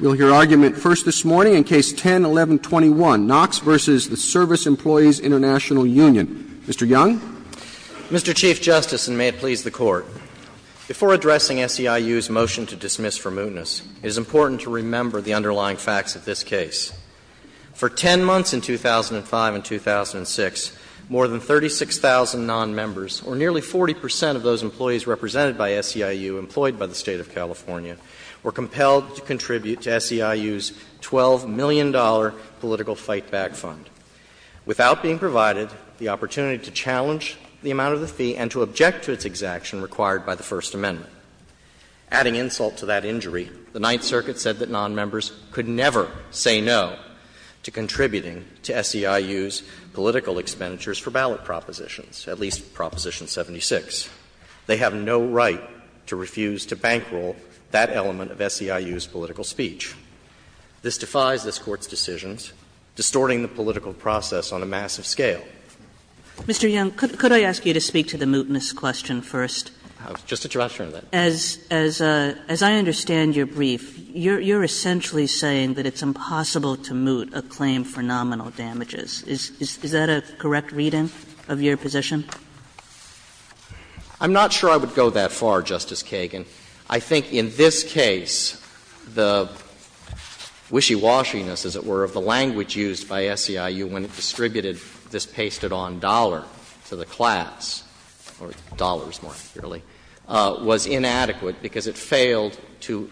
We'll hear argument first this morning in Case 10-1121, Knox v. the Service Employees International Union. Mr. Young. Mr. Chief Justice, and may it please the Court, before addressing SEIU's motion to dismiss for mootness, it is important to remember the underlying facts of this case. For 10 months in 2005 and 2006, more than 36,000 nonmembers, or nearly 40 percent of those employees represented by SEIU, employed by the State of California, were compelled to contribute to SEIU's $12 million political fight-back fund, without being provided the opportunity to challenge the amount of the fee and to object to its exaction required by the First Amendment. Adding insult to that injury, the Ninth Circuit said that nonmembers could never say no to contributing to SEIU's political expenditures for ballot propositions, at least Proposition 76. They have no right to refuse to bankroll that element of SEIU's political speech. This defies this Court's decisions, distorting the political process on a massive scale. Kagan. Mr. Young, could I ask you to speak to the mootness question first? Just a direction of that. As I understand your brief, you're essentially saying that it's impossible to moot a claim for nominal damages. Is that a correct reading of your position? Young, I'm not sure I would go that far, Justice Kagan. I think in this case, the wishy-washiness, as it were, of the language used by SEIU when it distributed this pasted-on dollar to the class, or dollars more clearly, was inadequate because it failed to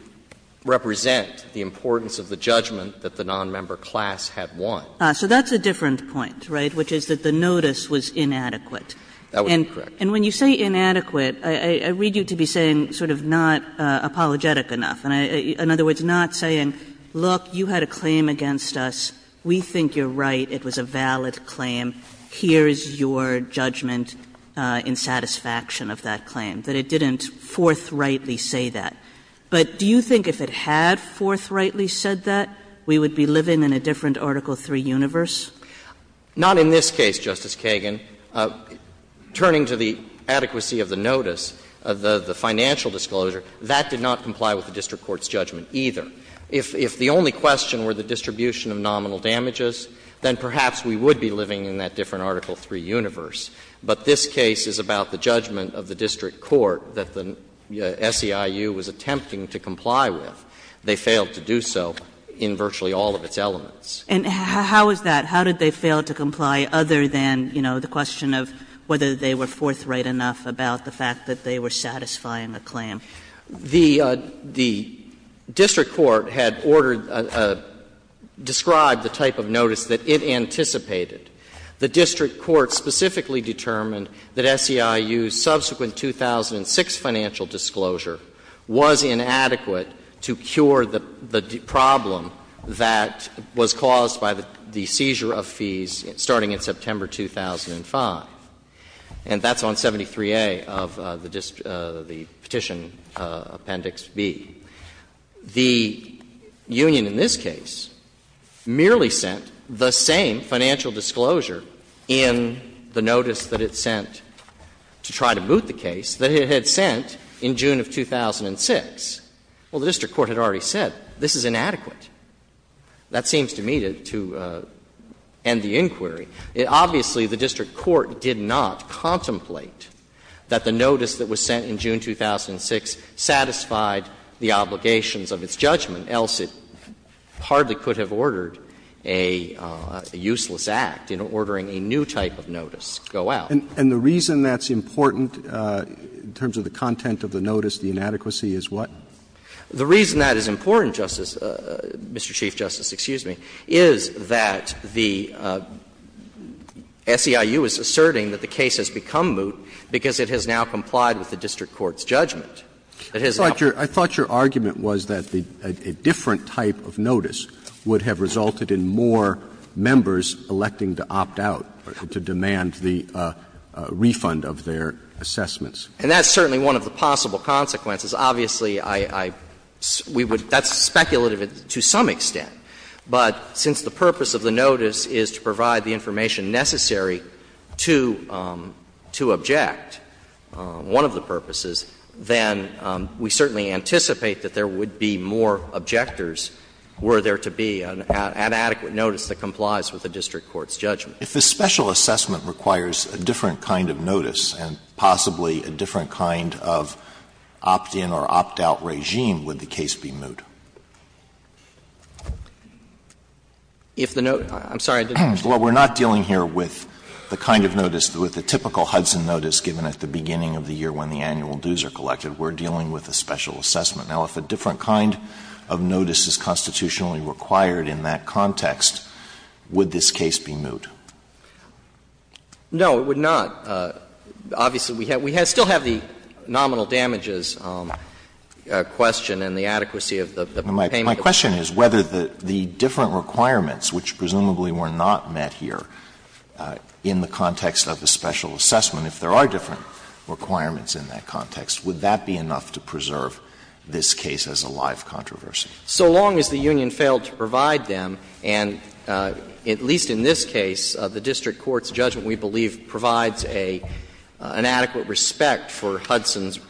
represent the importance of the judgment that the nonmember class had won. So that's a different point, right, which is that the notice was inadequate. That was incorrect. And when you say inadequate, I read you to be saying sort of not apologetic enough, in other words, not saying, look, you had a claim against us, we think you're right, it was a valid claim, here is your judgment in satisfaction of that claim, that it didn't forthrightly say that. But do you think if it had forthrightly said that, we would be living in a different Article III universe? Not in this case, Justice Kagan. Turning to the adequacy of the notice, the financial disclosure, that did not comply with the district court's judgment either. If the only question were the distribution of nominal damages, then perhaps we would be living in that different Article III universe. But this case is about the judgment of the district court that the SEIU was attempting to comply with. They failed to do so in virtually all of its elements. And how is that? How did they fail to comply other than, you know, the question of whether they were forthright enough about the fact that they were satisfying a claim? The district court had ordered or described the type of notice that it anticipated. The district court specifically determined that SEIU's subsequent 2006 financial disclosure was inadequate to cure the problem that was caused by the seizure of fees starting in September 2005. And that's on 73A of the Petition Appendix B. The union in this case merely sent the same financial disclosure in the notice that it sent to try to boot the case that it had sent in June of 2006. Well, the district court had already said, this is inadequate. That seems to me to end the inquiry. Obviously, the district court did not contemplate that the notice that was sent in June 2006 satisfied the obligations of its judgment, else it hardly could have ordered a useless act in ordering a new type of notice go out. And the reason that's important in terms of the content of the notice, the inadequacy, is what? The reason that is important, Justice — Mr. Chief Justice, excuse me, is that the SEIU is asserting that the case has become moot because it has now complied with the district court's judgment. It has now— I thought your argument was that a different type of notice would have resulted in more members electing to opt out, to demand the refund of their assessments. And that's certainly one of the possible consequences. Obviously, I — we would — that's speculative to some extent. But since the purpose of the notice is to provide the information necessary to — to object, one of the purposes, then we certainly anticipate that there would be more objectors were there to be an inadequate notice that complies with the district court's judgment. Alitoso, if the special assessment requires a different kind of notice and possibly a different kind of opt-in or opt-out regime, would the case be moot? If the note — I'm sorry, I didn't understand. Well, we're not dealing here with the kind of notice, with the typical Hudson notice given at the beginning of the year when the annual dues are collected. We're dealing with a special assessment. Now, if a different kind of notice is constitutionally required in that context, would this case be moot? No, it would not. Obviously, we have — we still have the nominal damages question and the adequacy of the payment. My question is whether the different requirements, which presumably were not met here in the context of a special assessment, if there are different requirements in that context, would that be enough to preserve this case as a live controversy? So long as the union failed to provide them, and at least in this case, the district court's judgment we believe provides an adequate respect for Hudson's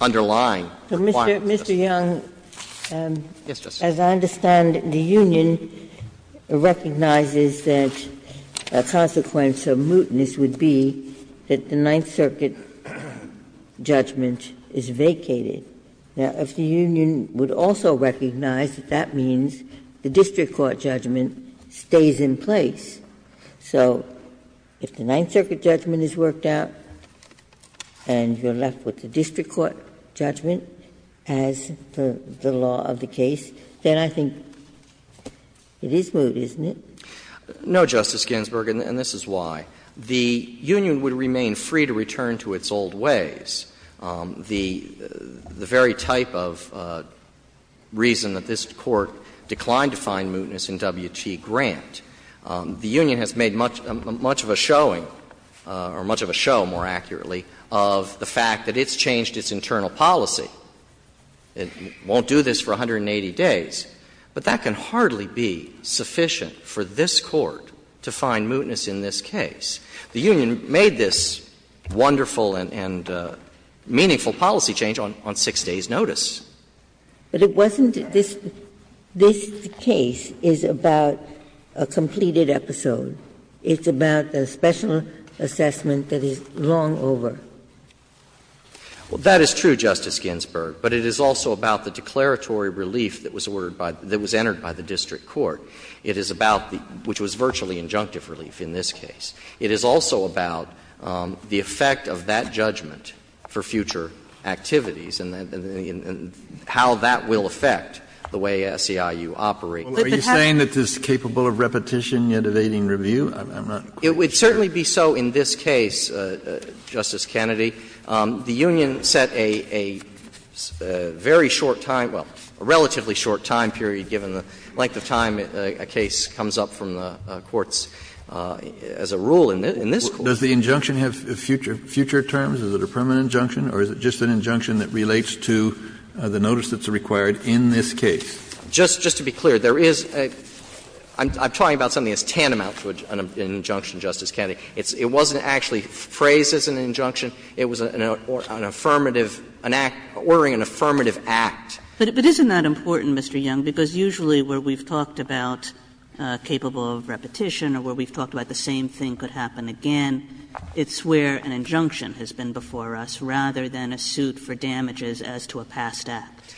underlying requirements. Mr. Young, as I understand it, the union recognizes that a consequence of mootness would be that the Ninth Circuit judgment is vacated. Now, if the union would also recognize that that means the district court judgment stays in place, so if the Ninth Circuit judgment is worked out and you're left with the district court judgment as per the law of the case, then I think it is moot, isn't it? No, Justice Ginsburg, and this is why. The union would remain free to return to its old ways. The very type of reason that this Court declined to find mootness in W.T. Grant, the union has made much of a showing, or much of a show, more accurately, of the fact that it's changed its internal policy. It won't do this for 180 days, but that can hardly be sufficient for this Court to The union made this wonderful and meaningful policy change on 6 days' notice. But it wasn't this case is about a completed episode. It's about a special assessment that is long over. Well, that is true, Justice Ginsburg, but it is also about the declaratory relief that was ordered by the district court. It is about the – which was virtually injunctive relief in this case. It is also about the effect of that judgment for future activities and how that will affect the way SEIU operates. Are you saying that this is capable of repetition, yet evading review? I'm not quite sure. It would certainly be so in this case, Justice Kennedy. The union set a very short time – well, a relatively short time period, given the length of time a case comes up from the courts as a rule in this court. Does the injunction have future terms? Is it a permanent injunction, or is it just an injunction that relates to the notice that's required in this case? Just to be clear, there is a – I'm talking about something as tantamount to an injunction, Justice Kennedy. It wasn't actually phrased as an injunction. It was an affirmative – an act ordering an affirmative act. But isn't that important, Mr. Young, because usually where we've talked about capable of repetition or where we've talked about the same thing could happen again, it's where an injunction has been before us, rather than a suit for damages as to a past act.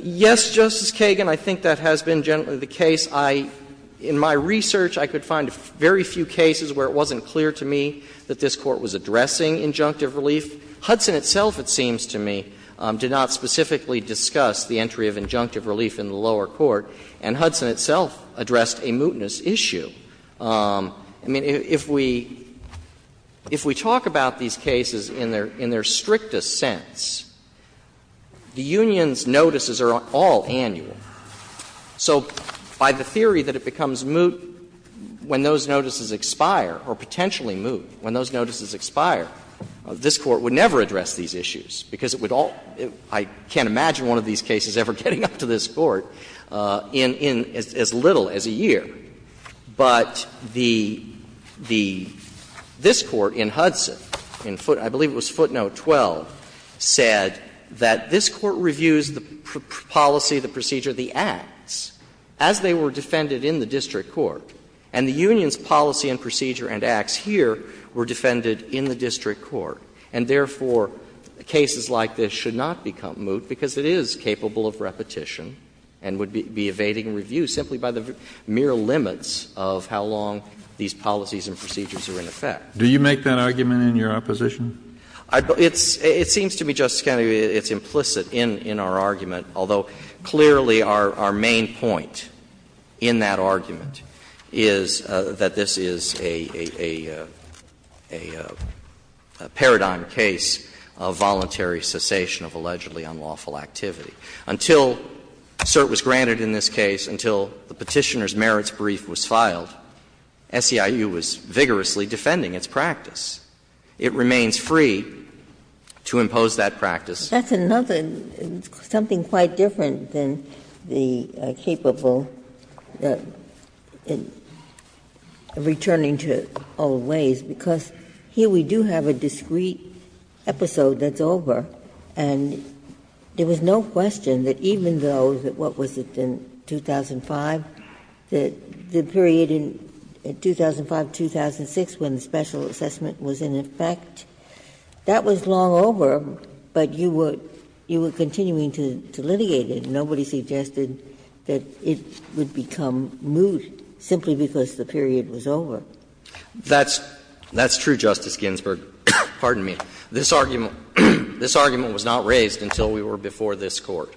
Yes, Justice Kagan, I think that has been generally the case. I – in my research, I could find very few cases where it wasn't clear to me that this Court was addressing injunctive relief. Hudson itself, it seems to me, did not specifically discuss the entry of injunctive relief in the lower court, and Hudson itself addressed a mootness issue. I mean, if we – if we talk about these cases in their strictest sense, the union's notices are all annual. So by the theory that it becomes moot when those notices expire, or potentially moot when those notices expire, this Court would never address these issues because it would all – I can't imagine one of these cases ever getting up to this Court in – in as little as a year. But the – this Court in Hudson, in foot – I believe it was footnote 12, said that this Court reviews the policy, the procedure, the acts as they were defended in the district court. And therefore, cases like this should not become moot because it is capable of repetition and would be evading review simply by the mere limits of how long these policies and procedures are in effect. Kennedy, it seems to me, Justice Kennedy, it's implicit in – in our argument, although clearly our – our main point in that argument is that this is a – a – a paradigm case of voluntary cessation of allegedly unlawful activity. Until cert was granted in this case, until the Petitioner's merits brief was filed, SEIU was vigorously defending its practice. It remains free to impose that practice. Ginsburg. That's another – something quite different than the capable returning to old ways, because here we do have a discreet episode that's over, and there was no question that even though, what was it, in 2005, the period in 2005-2006 when the special assessment was in effect, that was long over, but you were continuing to litigate it. Nobody suggested that it would become moot simply because the period was over. That's – that's true, Justice Ginsburg. Pardon me. This argument – this argument was not raised until we were before this Court,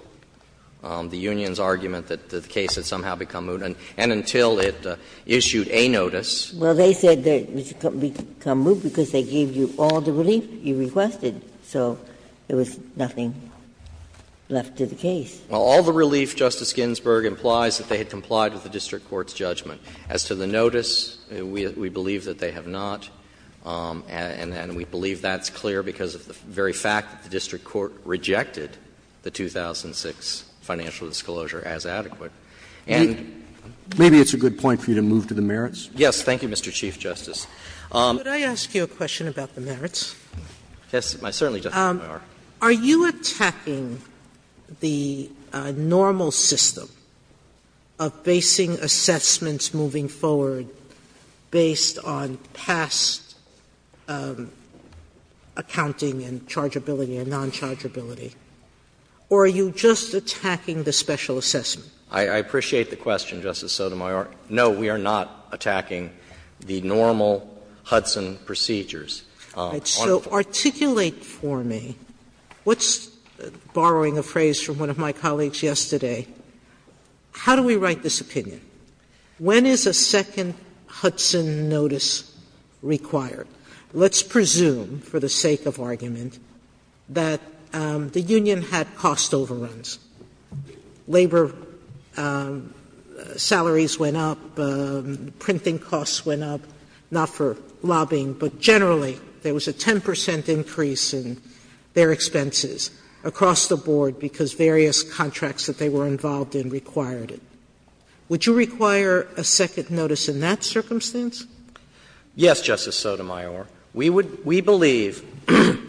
the union's argument that the case had somehow become moot, and until it issued a notice. Well, they said it would become moot because they gave you all the relief you requested, so there was nothing left to the case. Well, all the relief, Justice Ginsburg, implies that they had complied with the district court's judgment. As to the notice, we believe that they have not, and we believe that's clear because of the very fact that the district court rejected the 2006 financial disclosure as adequate. And the other point is that the district court rejected the 2006 financial disclosure as adequate. Maybe it's a good point for you to move to the merits. Yes. Thank you, Mr. Chief Justice. Could I ask you a question about the merits? Yes. I certainly do. Are you attacking the normal system of basing assessments moving forward based on past accounting and chargeability and nonchargeability, or are you just attacking the special assessment? I appreciate the question, Justice Sotomayor. No, we are not attacking the normal Hudson procedures. So articulate for me, what's the – borrowing a phrase from one of my colleagues yesterday, how do we write this opinion? When is a second Hudson notice required? Let's presume, for the sake of argument, that the union had cost overruns. Labor salaries went up, printing costs went up, not for lobbying, but generally there was a 10 percent increase in their expenses across the board because various contracts that they were involved in required it. Would you require a second notice in that circumstance? Yes, Justice Sotomayor. We would – we believe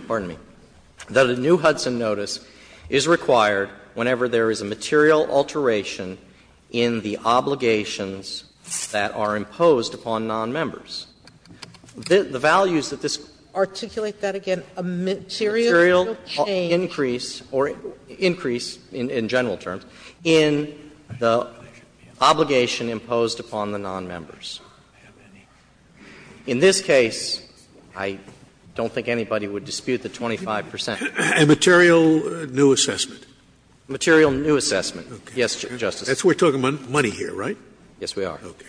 – pardon me – that a new Hudson notice is required whenever there is a material alteration in the obligations that are imposed upon nonmembers. The values that this – Articulate that again. A material change. A material increase or increase in general terms in the obligation imposed upon the nonmembers. In this case, I don't think anybody would dispute the 25 percent. A material new assessment. A material new assessment, yes, Justice Sotomayor. We are talking about money here, right? Yes, we are. Okay.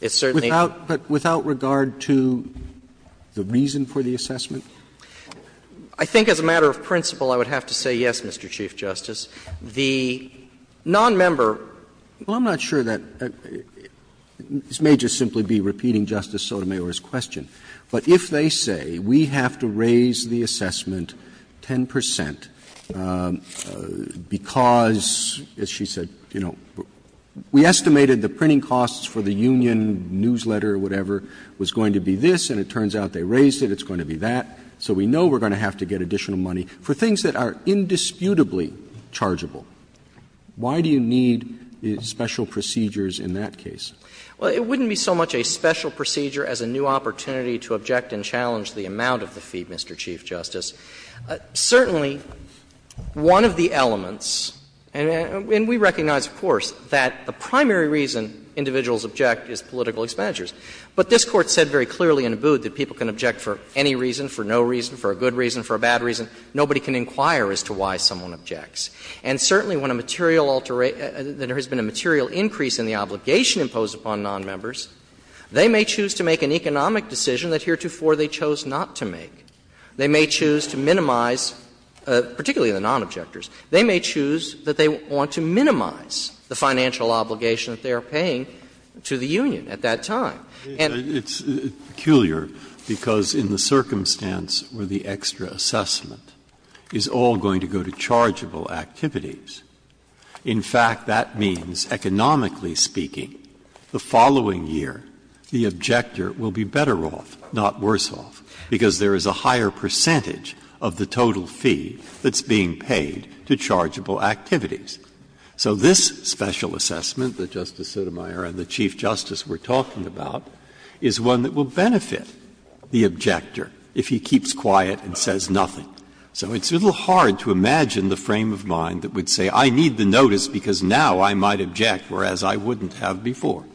It's certainly – But without regard to the reason for the assessment? I think as a matter of principle, I would have to say yes, Mr. Chief Justice. The nonmember – Well, I'm not sure that – this may just simply be repeating Justice Sotomayor's question. But if they say we have to raise the assessment 10 percent because, as she said, we estimated the printing costs for the union newsletter, whatever, was going to be this, and it turns out they raised it, it's going to be that, so we know we're going to have to get additional money for things that are indisputably chargeable, why do you need special procedures in that case? Well, it wouldn't be so much a special procedure as a new opportunity to object and challenge the amount of the fee, Mr. Chief Justice. Certainly, one of the elements, and we recognize, of course, that the primary reason individuals object is political expenditures. But this Court said very clearly in Abood that people can object for any reason, for no reason, for a good reason, for a bad reason. Nobody can inquire as to why someone objects. And certainly when a material alteration – there has been a material increase in the obligation imposed upon nonmembers, they may choose to make an economic decision that heretofore they chose not to make. They may choose to minimize, particularly the nonobjectors, they may choose that they want to minimize the financial obligation that they are paying to the union at that time. And it's peculiar because in the circumstance where the extra assessment is all going to go to chargeable activities, in fact, that means, economically speaking, the following year, the objector will be better off, not worse off, because there is a higher percentage of the total fee that's being paid to chargeable activities. So this special assessment that Justice Sotomayor and the Chief Justice were talking about is one that will benefit the objector if he keeps quiet and says nothing. So it's a little hard to imagine the frame of mind that would say, I need the notice because now I might object, whereas I wouldn't have before.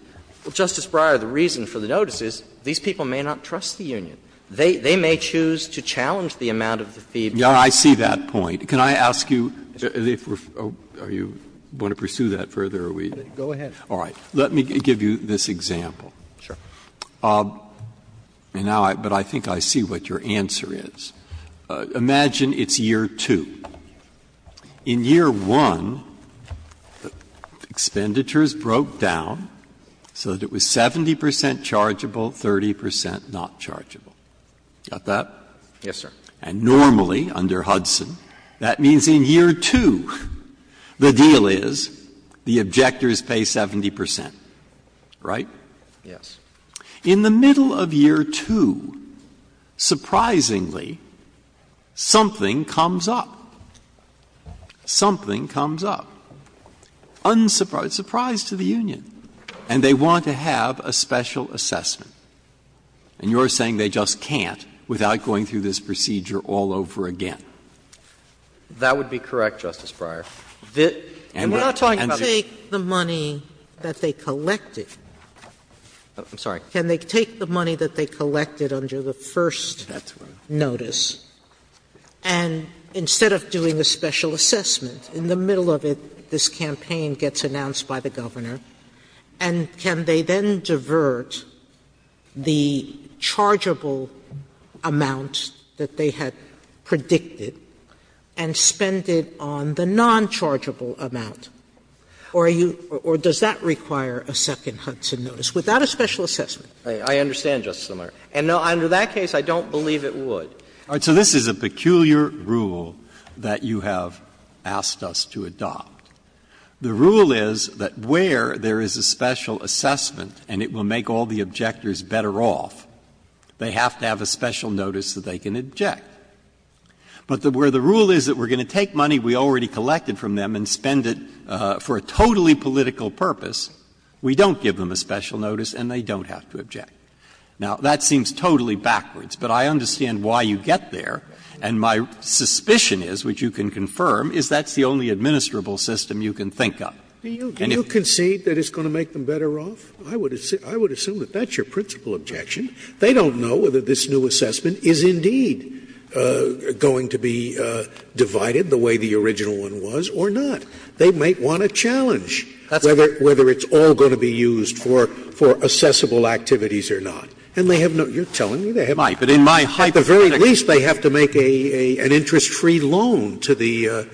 Well, Justice Breyer, the reason for the notice is these people may not trust the union. They may choose to challenge the amount of the fee. Breyer, I see that point. Can I ask you, if we're going to pursue that further, are we? Go ahead. All right. Let me give you this example. Sure. Now, but I think I see what your answer is. Imagine it's year 2. In year 1, expenditures broke down so that it was 70 percent chargeable, 30 percent not chargeable. Got that? Yes, sir. And normally under Hudson, that means in year 2 the deal is the objectors pay 70 percent. Right? Yes. In the middle of year 2, surprisingly, something comes up. Something comes up. Unsurprised, surprised to the union, and they want to have a special assessment. And you're saying they just can't without going through this procedure all over again. That would be correct, Justice Breyer. And we're not talking about the union. And take the money that they collected. I'm sorry. Can they take the money that they collected under the first notice and instead of doing a special assessment, in the middle of it this campaign gets announced by the governor. And can they then divert the chargeable amount that they had predicted and spend it on the nonchargeable amount? Or are you or does that require a second Hudson notice without a special assessment? I understand, Justice Sotomayor. And under that case, I don't believe it would. All right. The rule is that where there is a special assessment and it will make all the objectors better off, they have to have a special notice that they can object. But where the rule is that we're going to take money we already collected from them and spend it for a totally political purpose, we don't give them a special notice and they don't have to object. Now, that seems totally backwards, but I understand why you get there. And my suspicion is, which you can confirm, is that's the only administrable system you can think of. And if you concede that it's going to make them better off, I would assume that that's your principal objection. They don't know whether this new assessment is indeed going to be divided the way the original one was or not. They might want to challenge whether it's all going to be used for assessable activities or not. And they have no you're telling me they have no. At the very least, they have to make an interest-free loan to the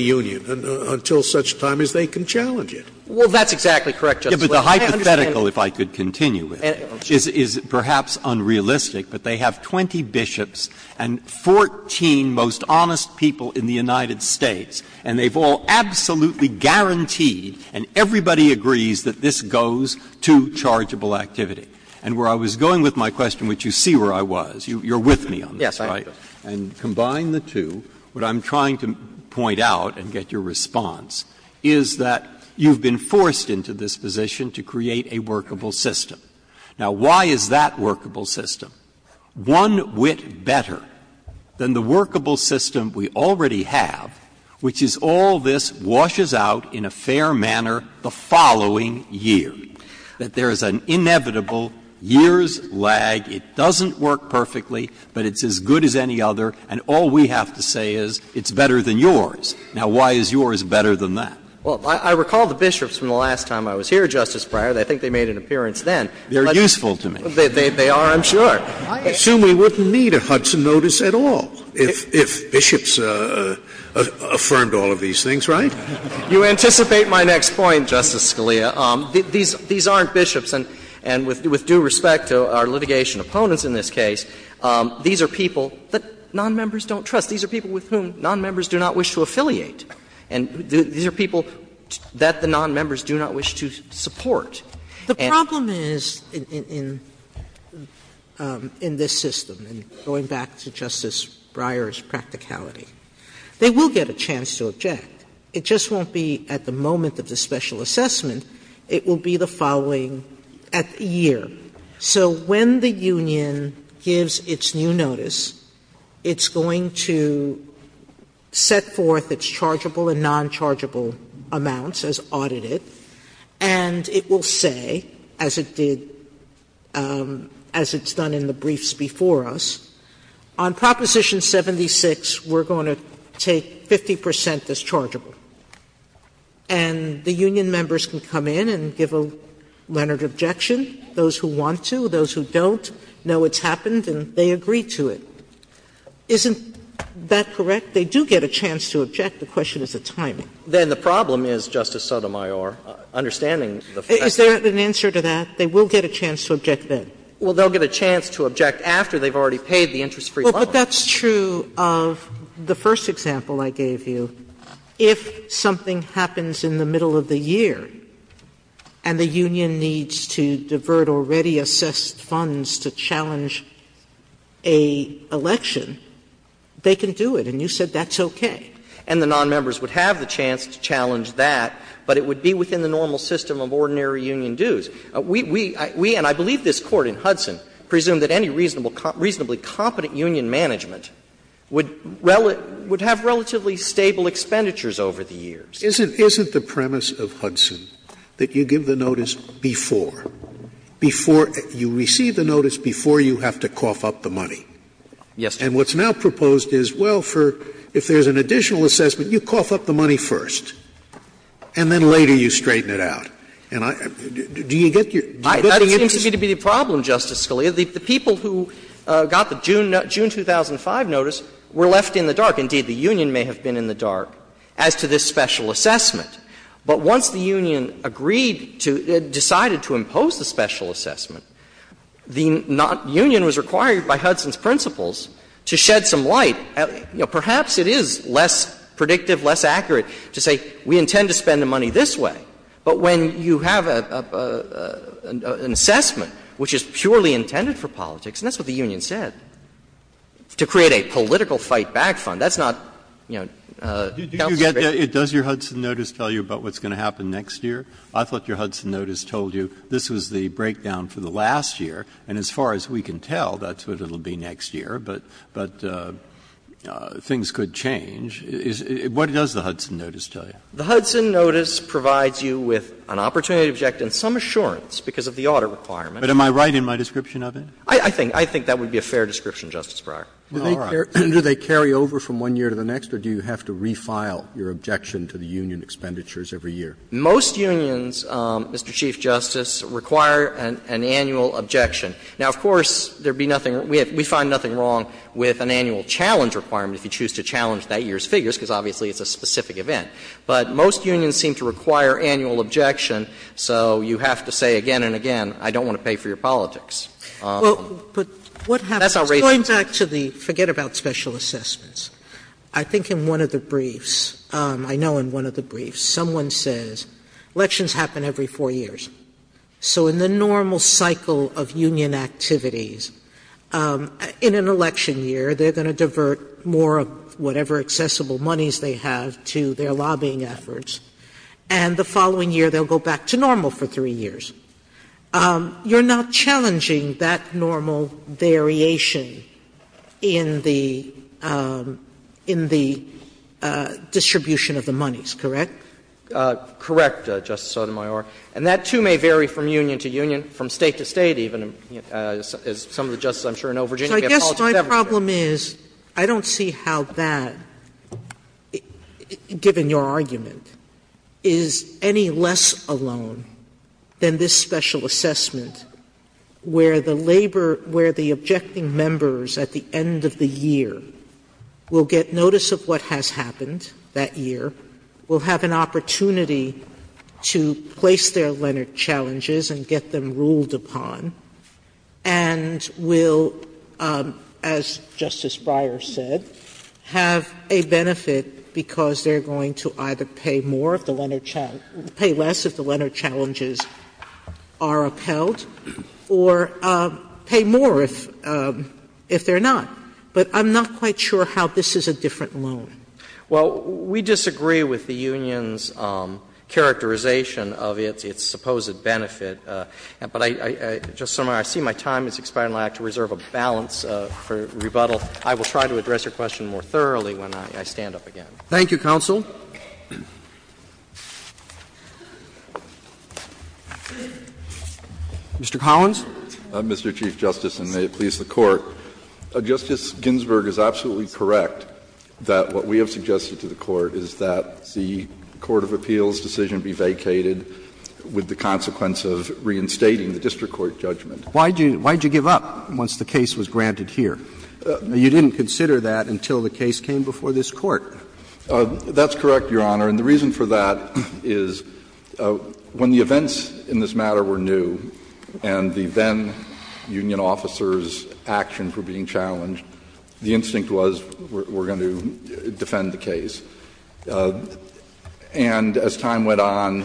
union until such time as they can challenge it. Well, that's exactly correct, Justice Scalia. I understand. Breyer. But the hypothetical, if I could continue with it, is perhaps unrealistic, but they have 20 bishops and 14 most honest people in the United States, and they've all absolutely guaranteed and everybody agrees that this goes to chargeable activity. And where I was going with my question, which you see where I was, you're with me on this, right? Yes, I am. And combine the two, what I'm trying to point out and get your response is that you've been forced into this position to create a workable system. Now, why is that workable system one whit better than the workable system we already have, which is all this washes out in a fair manner the following year, that there is an inevitable year's lag, it doesn't work perfectly, but it's as good as any other, and all we have to say is it's better than yours. Now, why is yours better than that? Well, I recall the bishops from the last time I was here, Justice Breyer. I think they made an appearance then. They're useful to me. They are, I'm sure. I assume we wouldn't need a Hudson notice at all if bishops affirmed all of these things, right? You anticipate my next point, Justice Scalia. These aren't bishops, and with due respect to our litigation opponents in this case, these are people that nonmembers don't trust. These are people with whom nonmembers do not wish to affiliate. And these are people that the nonmembers do not wish to support. The problem is in this system, and going back to Justice Breyer's practicality, they will get a chance to object. It just won't be at the moment of the special assessment. It will be the following year. So when the union gives its new notice, it's going to set forth its chargeable and nonchargeable amounts as audited, and it will say, as it did as it's done in the briefs before us, on Proposition 76, we're going to take 50 percent as chargeable. And the union members can come in and give a Leonard objection. Those who want to, those who don't, know it's happened, and they agree to it. Isn't that correct? They do get a chance to object. The question is the timing. Then the problem is, Justice Sotomayor, understanding the fact that Is there an answer to that? They will get a chance to object then. Well, they'll get a chance to object after they've already paid the interest-free bond. Sotomayor, if that's true of the first example I gave you, if something happens in the middle of the year and the union needs to divert already-assessed funds to challenge an election, they can do it, and you said that's okay. And the nonmembers would have the chance to challenge that, but it would be within the normal system of ordinary union dues. We, and I believe this Court in Hudson, presume that any reasonably competent union management would have relatively stable expenditures over the years. Isn't the premise of Hudson that you give the notice before, before you receive the notice, before you have to cough up the money? Yes, Your Honor. And what's now proposed is, well, if there's an additional assessment, you cough up the money first, and then later you straighten it out. Do you get your interest? That seems to me to be the problem, Justice Scalia. The people who got the June 2005 notice were left in the dark. Indeed, the union may have been in the dark as to this special assessment. But once the union agreed to or decided to impose the special assessment, the union was required by Hudson's principles to shed some light. Perhaps it is less predictive, less accurate to say we intend to spend the money this way, but when you have an assessment which is purely intended for politics and that's what the union said, to create a political fight-back fund, that's not, you know, counsel's business. Breyer. Breyer. Does your Hudson notice tell you about what's going to happen next year? I thought your Hudson notice told you this was the breakdown for the last year, and as far as we can tell, that's what it will be next year, but things could change. What does the Hudson notice tell you? The Hudson notice provides you with an opportunity to object and some assurance because of the audit requirement. But am I right in my description of it? I think that would be a fair description, Justice Breyer. All right. Do they carry over from one year to the next, or do you have to refile your objection to the union expenditures every year? Most unions, Mr. Chief Justice, require an annual objection. Now, of course, there would be nothing we find nothing wrong with an annual challenge requirement if you choose to challenge that year's figures, because obviously it's a specific event. But most unions seem to require annual objection, so you have to say again and again, I don't want to pay for your politics. That's how ratings work. Sotomayor, going back to the forget-about special assessments, I think in one of the briefs, I know in one of the briefs, someone says elections happen every four years. So in the normal cycle of union activities, in an election year, they're going to divert more of whatever accessible monies they have to their lobbying efforts, and the following year they'll go back to normal for three years. You're not challenging that normal variation in the distribution of the monies, correct? Correct, Justice Sotomayor. And that, too, may vary from union to union, from State to State even, as some of the justices I'm sure know. Virginia, we have politics every year. The problem is, I don't see how that, given your argument, is any less alone than this special assessment, where the labor, where the objecting members at the end of the year will get notice of what has happened that year, will have an opportunity to place their challenges and get them ruled upon, and will, as Justice Breyer said, have a benefit because they're going to either pay more of the Leonard Challenge or pay less if the Leonard Challenges are upheld, or pay more if they're not. But I'm not quite sure how this is a different loan. Well, we disagree with the union's characterization of its supposed benefit. But, Justice Sotomayor, I see my time has expired, and I'd like to reserve a balance for rebuttal. I will try to address your question more thoroughly when I stand up again. Thank you, counsel. Mr. Collins. Justice Ginsburg is absolutely correct that what we have suggested to the Court is that the court of appeals decision be vacated with the consequence of reinstating the district court judgment. Why did you give up once the case was granted here? You didn't consider that until the case came before this Court. That's correct, Your Honor. And the reason for that is when the events in this matter were new and the then-union officers' actions were being challenged, the instinct was we're going to defend the case. And as time went on,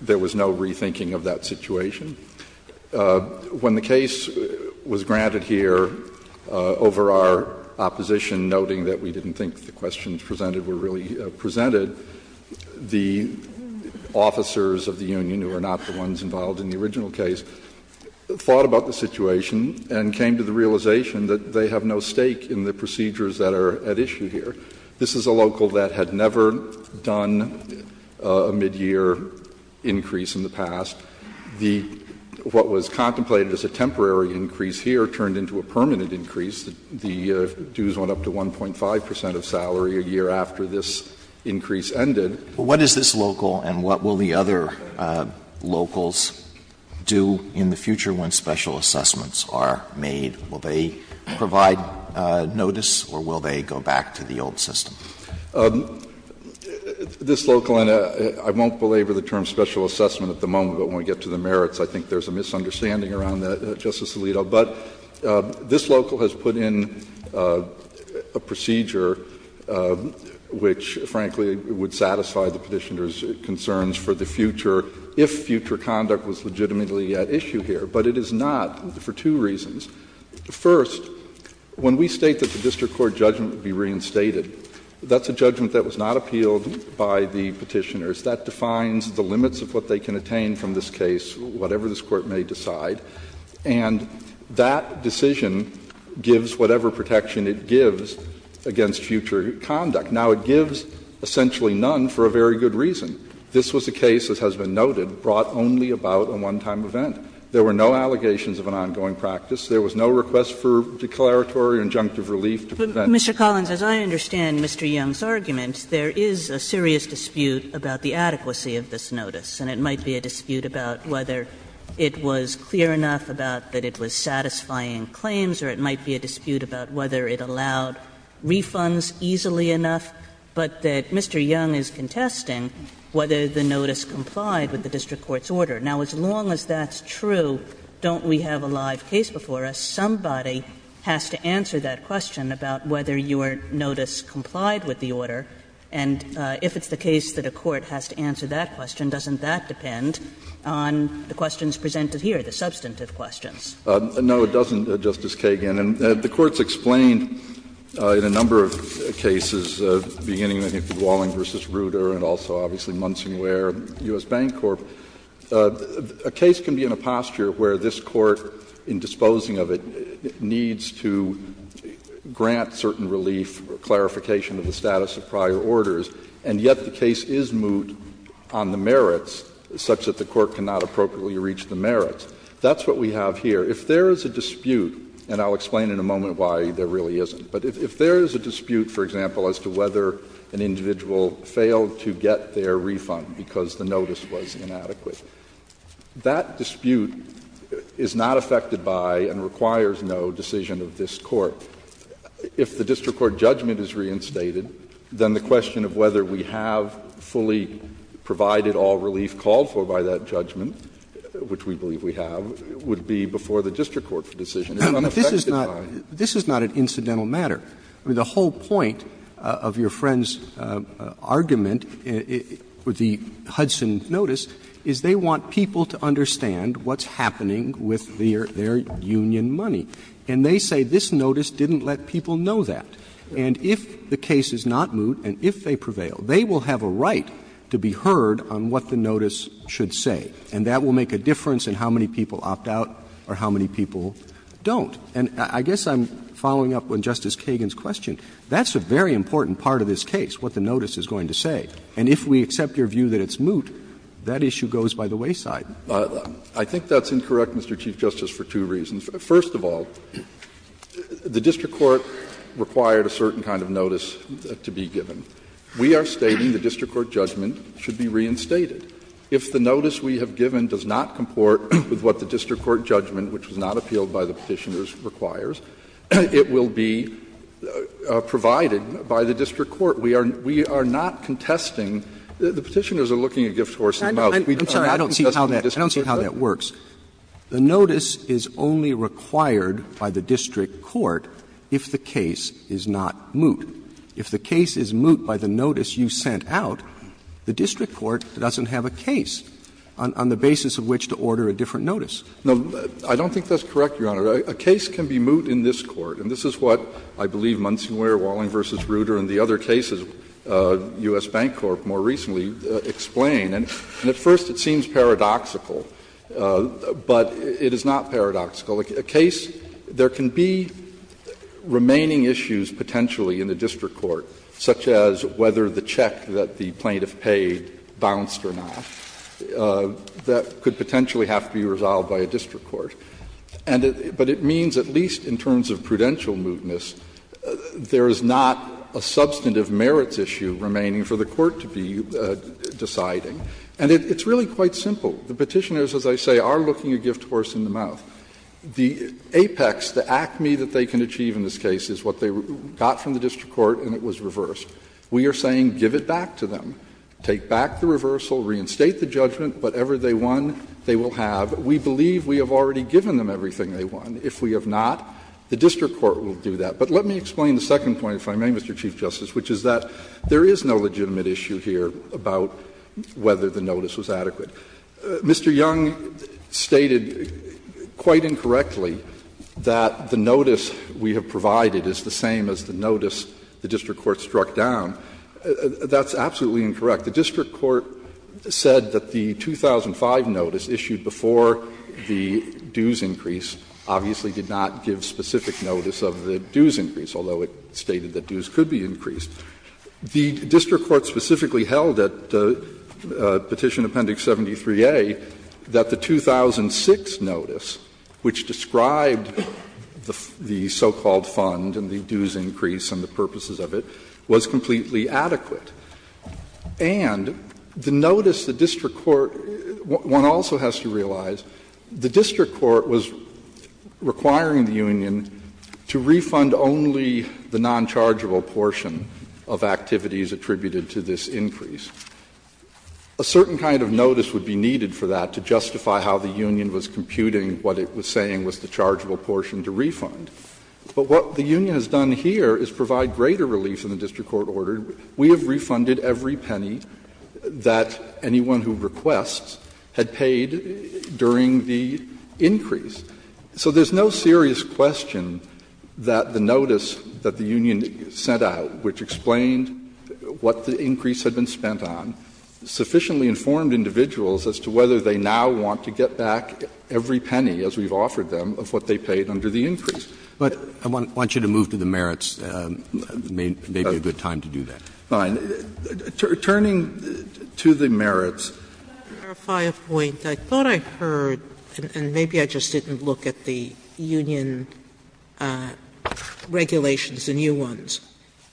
there was no rethinking of that situation. When the case was granted here, over our opposition noting that we didn't think the questions presented were really presented, the officers of the union, who are not the ones involved in the original case, thought about the situation and came to the realization that they have no stake in the procedures that are at issue here. This is a local that had never done a midyear increase in the past. The what was contemplated as a temporary increase here turned into a permanent increase. The dues went up to 1.5 percent of salary a year after this increase ended. Alito, what is this local and what will the other locals do in the future when special assessments are made? Will they provide notice or will they go back to the old system? This local, and I won't belabor the term special assessment at the moment, but when we get to the merits, I think there's a misunderstanding around that, Justice Alito. But this local has put in a procedure which, frankly, would satisfy the Petitioner's concerns for the future if future conduct was legitimately at issue here. But it is not for two reasons. First, when we state that the district court judgment would be reinstated, that's a judgment that was not appealed by the Petitioners. That defines the limits of what they can attain from this case, whatever this Court may decide. And that decision gives whatever protection it gives against future conduct. Now, it gives essentially none for a very good reason. This was a case, as has been noted, brought only about a one-time event. There were no allegations of an ongoing practice. There was no request for declaratory or injunctive relief to prevent it. Kagan. Kagan. But, Mr. Collins, as I understand Mr. Young's argument, there is a serious dispute about the adequacy of this notice. And it might be a dispute about whether it was clear enough about that it was satisfying claims, or it might be a dispute about whether it allowed refunds easily enough, but that Mr. Young is contesting whether the notice complied with the district court's order. Now, as long as that's true, don't we have a live case before us? Somebody has to answer that question about whether your notice complied with the order. And if it's the case that a court has to answer that question, doesn't that depend on the questions presented here, the substantive questions? No, it doesn't, Justice Kagan. And the Court's explained in a number of cases, beginning with Walling v. Ruder and also obviously Munsing Ware, U.S. Bank Corp., a case can be in a posture where this Court, in disposing of it, needs to grant certain relief, clarification of the status of prior orders, and yet the case is moot on the merits, such that the Court cannot appropriately reach the merits. That's what we have here. If there is a dispute, and I'll explain in a moment why there really isn't, but if there is a dispute, for example, as to whether an individual failed to get their refund because the notice was inadequate, that dispute is not affected by and requires no decision of this Court. If the district court judgment is reinstated, then the question of whether we have fully provided all relief called for by that judgment, which we believe we have, would be before the district court for decision. It's not affected by. Roberts. This is not an incidental matter. I mean, the whole point of your friend's argument with the Hudson notice is they want people to understand what's happening with their union money. And they say this notice didn't let people know that. And if the case is not moot and if they prevail, they will have a right to be heard on what the notice should say, and that will make a difference in how many people opt out or how many people don't. And I guess I'm following up on Justice Kagan's question. That's a very important part of this case, what the notice is going to say. And if we accept your view that it's moot, that issue goes by the wayside. I think that's incorrect, Mr. Chief Justice, for two reasons. First of all, the district court required a certain kind of notice to be given. We are stating the district court judgment should be reinstated. If the notice we have given does not comport with what the district court judgment, which was not appealed by the Petitioners, requires, it will be provided by the district court. We are not contesting. The Petitioners are looking a gift horse in the mouth. We are not contesting the district court. Roberts I don't see how that works. The notice is only required by the district court if the case is not moot. If the case is moot by the notice you sent out, the district court doesn't have a case on the basis of which to order a different notice. I don't think that's correct, Your Honor. A case can be moot in this Court, and this is what I believe Munsonwear, Walling v. Ruder, and the other cases, U.S. Bank Corp., more recently, explain. And at first it seems paradoxical, but it is not paradoxical. A case — there can be remaining issues potentially in the district court, such as whether the check that the plaintiff paid bounced or not. That could potentially have to be resolved by a district court. And it — but it means at least in terms of prudential mootness, there is not a substantive merits issue remaining for the court to be deciding. And it's really quite simple. The Petitioners, as I say, are looking a gift horse in the mouth. The apex, the acme that they can achieve in this case is what they got from the district court and it was reversed. We are saying give it back to them. Take back the reversal, reinstate the judgment, whatever they won, they will have. We believe we have already given them everything they won. If we have not, the district court will do that. But let me explain the second point, if I may, Mr. Chief Justice, which is that there is no legitimate issue here about whether the notice was adequate. Mr. Young stated quite incorrectly that the notice we have provided is the same as the notice the district court struck down. That's absolutely incorrect. The district court said that the 2005 notice issued before the dues increase obviously did not give specific notice of the dues increase, although it stated that dues could be increased. The district court specifically held at Petition Appendix 73A that the 2006 notice, which described the so-called fund and the dues increase and the purposes of it, was completely adequate. And the notice the district court one also has to realize, the district court was requiring the union to refund only the non-chargeable portion of activities attributed to this increase. A certain kind of notice would be needed for that to justify how the union was computing what it was saying was the chargeable portion to refund. But what the union has done here is provide greater relief than the district court ordered. We have refunded every penny that anyone who requests had paid during the increase. So there's no serious question that the notice that the union sent out, which explained what the increase had been spent on, sufficiently informed individuals as to whether they now want to get back every penny, as we've offered them, of what they paid under the increase. Roberts, I want you to move to the merits, maybe a good time to do that. Fine. Turning to the merits. Sotomayor, I just want to clarify a point. I thought I heard, and maybe I just didn't look at the union regulations, the new ones.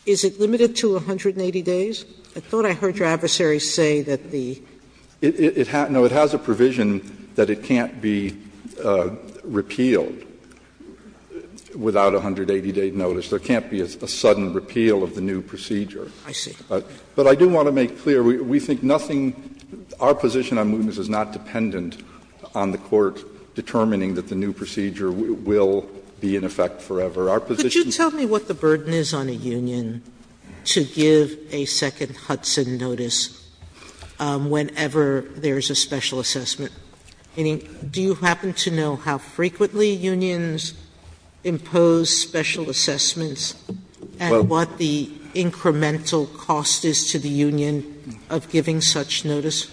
Is it limited to 180 days? I thought I heard your adversary say that the ---- It has a provision that it can't be repealed without a 180-day notice. There can't be a sudden repeal of the new procedure. I see. But I do want to make clear, we think nothing ---- our position on mootness is not dependent on the court determining that the new procedure will be in effect Our position---- Sotomayor, could you tell me what the burden is on a union to give a second Hudson notice whenever there is a special assessment? I mean, do you happen to know how frequently unions impose special assessments and what the incremental cost is to the union of giving such notice?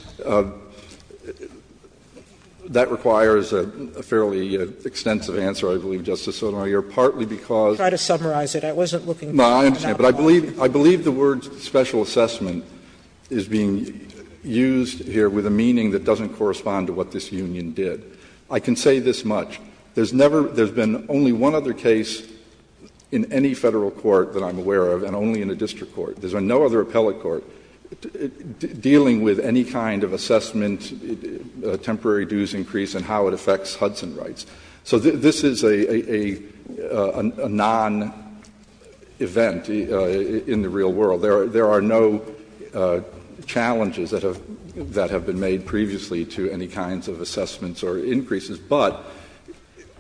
That requires a fairly extensive answer, I believe, Justice Sotomayor, partly because I believe the word special assessment is being used here with a meaning that doesn't correspond to what this union did. I can say this much. There's never been only one other case in any Federal court that I'm aware of, and only in a district court. There's been no other appellate court dealing with any kind of assessment, temporary dues increase, and how it affects Hudson rights. So this is a non-event in the real world. There are no challenges that have been made previously to any kinds of assessments or increases. But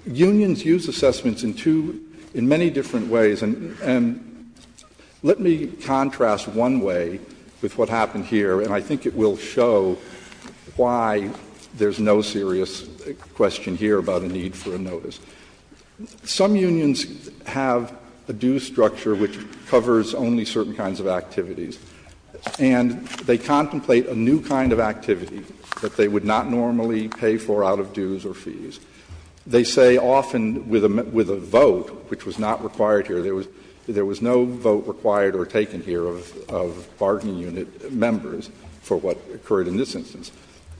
unions use assessments in two ---- in many different ways. And let me contrast one way with what happened here, and I think it will show why there's no serious question here about a need for a notice. Some unions have a due structure which covers only certain kinds of activities, and they contemplate a new kind of activity that they would not normally pay for out of dues or fees. They say often with a vote, which was not required here, there was no vote required or taken here of bargain unit members for what occurred in this instance.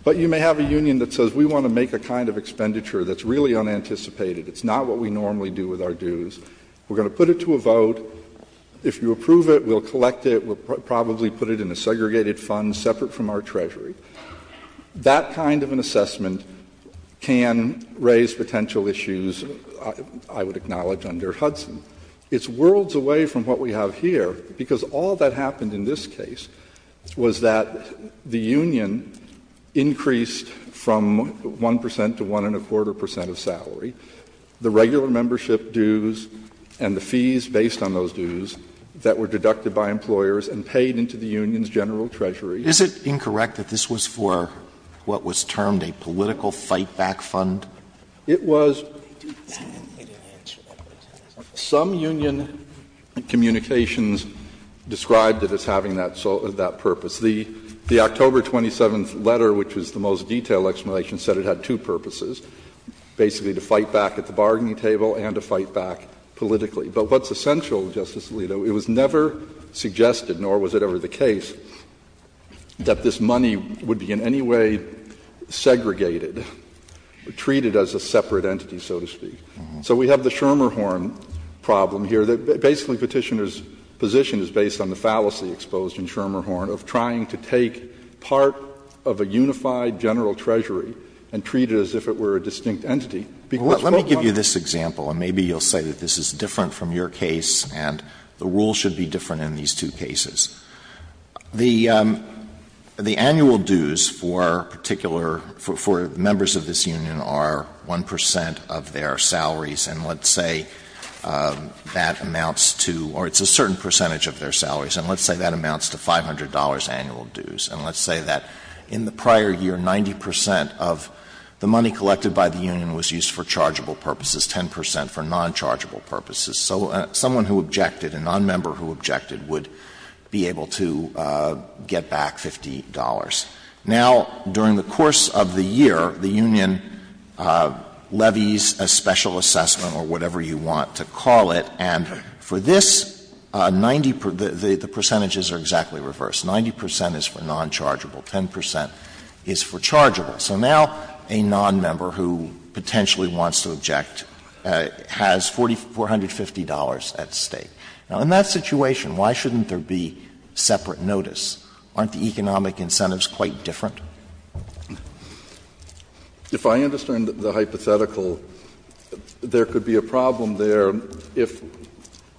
But you may have a union that says we want to make a kind of expenditure that's really unanticipated, it's not what we normally do with our dues, we're going to put it to a vote, if you approve it we'll collect it, we'll probably put it in a segregated fund separate from our treasury. That kind of an assessment can raise potential issues, I would acknowledge, under Hudson. It's worlds away from what we have here, because all that happened in this case was that the union increased from 1 percent to 1.25 percent of salary, the regular membership dues and the fees based on those dues that were deducted by employers and paid into the union's general treasury. Alito, is it incorrect that this was for what was termed a political fight-back fund? It was. Some union communications described it as having that purpose. The October 27th letter, which was the most detailed explanation, said it had two purposes, basically to fight back at the bargaining table and to fight back politically. But what's essential, Justice Alito, it was never suggested, nor was it ever the case, that this money would be in any way segregated, treated as a separate entity, so to speak. So we have the Schermerhorn problem here, that basically Petitioner's position is based on the fallacy exposed in Schermerhorn of trying to take part of a unified general treasury and treat it as if it were a distinct entity. Let me give you this example, and maybe you'll say that this is different from your case, and the rules should be different in these two cases. The annual dues for particular — for members of this union are 1 percent of their salaries, and let's say that amounts to — or it's a certain percentage of their salaries, and let's say that amounts to $500 annual dues. And let's say that in the prior year, 90 percent of the money collected by the union was used for chargeable purposes, 10 percent for nonchargeable purposes. So someone who objected, a nonmember who objected, would be able to get back $50. Now, during the course of the year, the union levies a special assessment or whatever you want to call it, and for this, 90 — the percentages are exactly reversed. 90 percent is for nonchargeable, 10 percent is for chargeable. So now, a nonmember who potentially wants to object has $450 at stake. Now, in that situation, why shouldn't there be separate notice? Aren't the economic incentives quite different? McAllister, if I understand the hypothetical, there could be a problem there if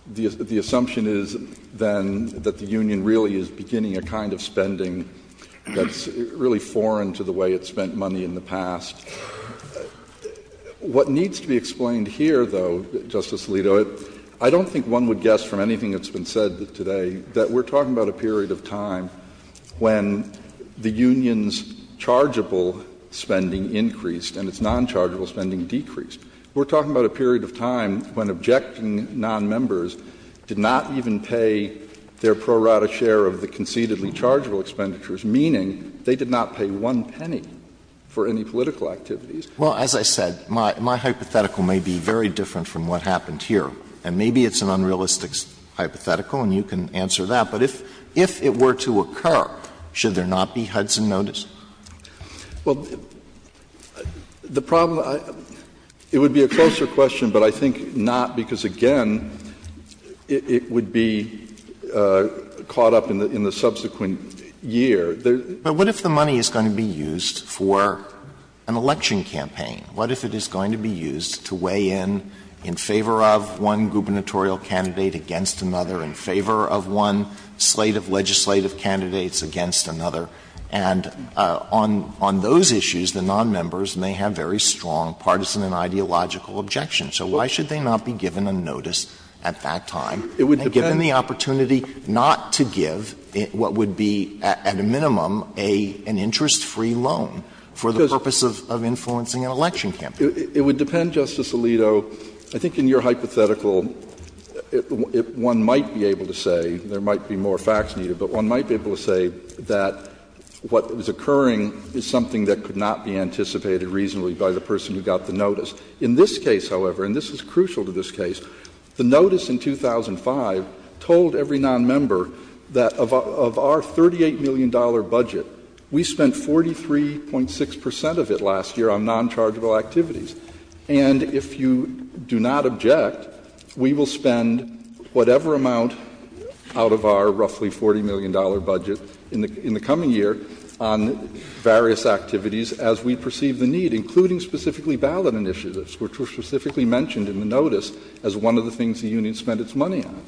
the assumption is, then, that the union really is beginning a kind of spending that's really foreign to the way it spent money in the past. What needs to be explained here, though, Justice Alito, I don't think one would guess from anything that's been said today that we're talking about a period of time when the union's chargeable spending increased and its nonchargeable spending decreased. We're talking about a period of time when objecting nonmembers did not even pay their pro rata share of the concededly chargeable expenditures, meaning they did not pay one penny for any political activities. Alito, as I said, my hypothetical may be very different from what happened here. And maybe it's an unrealistic hypothetical, and you can answer that. But if it were to occur, should there not be Hudson notice? McAllister, it would be a closer question, but I think not because, again, it would be caught up in the subsequent year. Alito, but what if the money is going to be used for an election campaign? What if it is going to be used to weigh in, in favor of one gubernatorial candidate against another, in favor of one slate of legislative candidates against another, and on those issues, the nonmembers may have very strong partisan and ideological objections? So why should they not be given a notice at that time? And given the opportunity not to give what would be, at a minimum, an interest-free loan for the purpose of influencing an election campaign? It would depend, Justice Alito. I think in your hypothetical, one might be able to say, there might be more facts needed, but one might be able to say that what was occurring is something that could In this case, however, and this is crucial to this case, the notice in 2005 told every nonmember that of our $38 million budget, we spent 43.6 percent of it last year on nonchargeable activities. And if you do not object, we will spend whatever amount out of our roughly $40 million budget in the coming year on various activities as we perceive the need, including specifically ballot initiatives, which were specifically mentioned in the notice as one of the things the union spent its money on.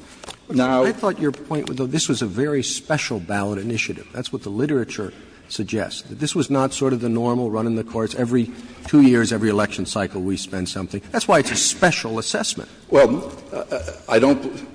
Now — I thought your point was that this was a very special ballot initiative. That's what the literature suggests, that this was not sort of the normal run in the courts. Every two years, every election cycle, we spend something. That's why it's a special assessment. Well, I don't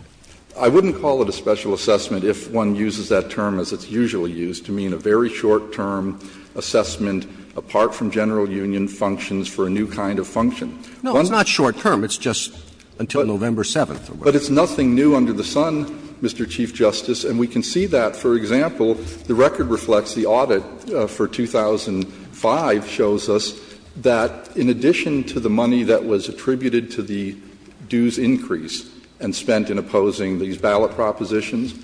— I wouldn't call it a special assessment if one uses that term as it's usually used, to mean a very short-term assessment apart from general union functions for a new kind of function. No, it's not short-term. It's just until November 7th. But it's nothing new under the sun, Mr. Chief Justice, and we can see that. For example, the record reflects the audit for 2005 shows us that in addition to the money that was attributed to the dues increase and spent in opposing these ballot propositions,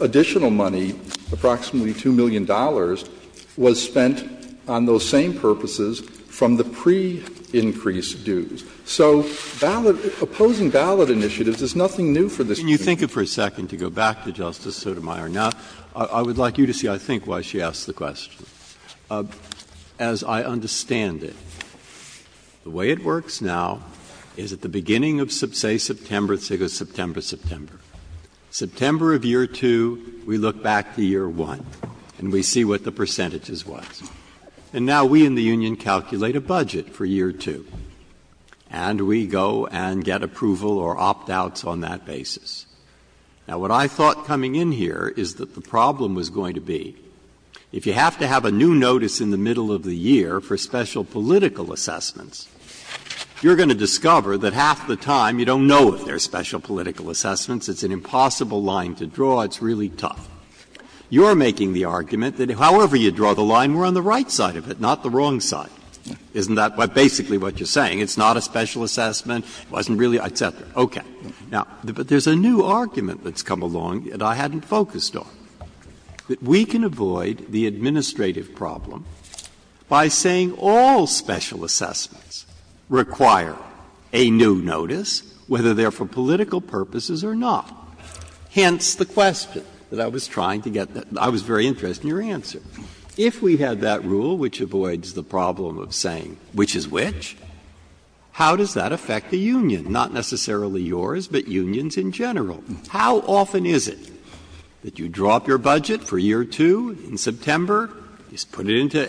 additional money, approximately $2 million, was spent on those same purposes from the pre-increase dues. So ballot — opposing ballot initiatives is nothing new for this Court. Breyer. Can you think it for a second to go back to Justice Sotomayor? Now, I would like you to see, I think, why she asked the question. As I understand it, the way it works now is at the beginning of, say, September — September of year 2, we look back to year 1, and we see what the percentages was. And now we in the union calculate a budget for year 2, and we go and get approval or opt-outs on that basis. Now, what I thought coming in here is that the problem was going to be, if you have to have a new notice in the middle of the year for special political assessments, you're going to discover that half the time you don't know if there are special political assessments, it's an impossible line to draw, it's really tough. You're making the argument that however you draw the line, we're on the right side of it, not the wrong side. Isn't that basically what you're saying? It's not a special assessment, it wasn't really, et cetera. Okay. Now, but there's a new argument that's come along that I hadn't focused on, that we can avoid the administrative problem by saying all special assessments require a new notice, whether they're for political purposes or not. Hence the question that I was trying to get — I was very interested in your answer. If we had that rule which avoids the problem of saying which is which, how does that affect the union? Not necessarily yours, but unions in general. How often is it that you drop your budget for year two in September, just put it into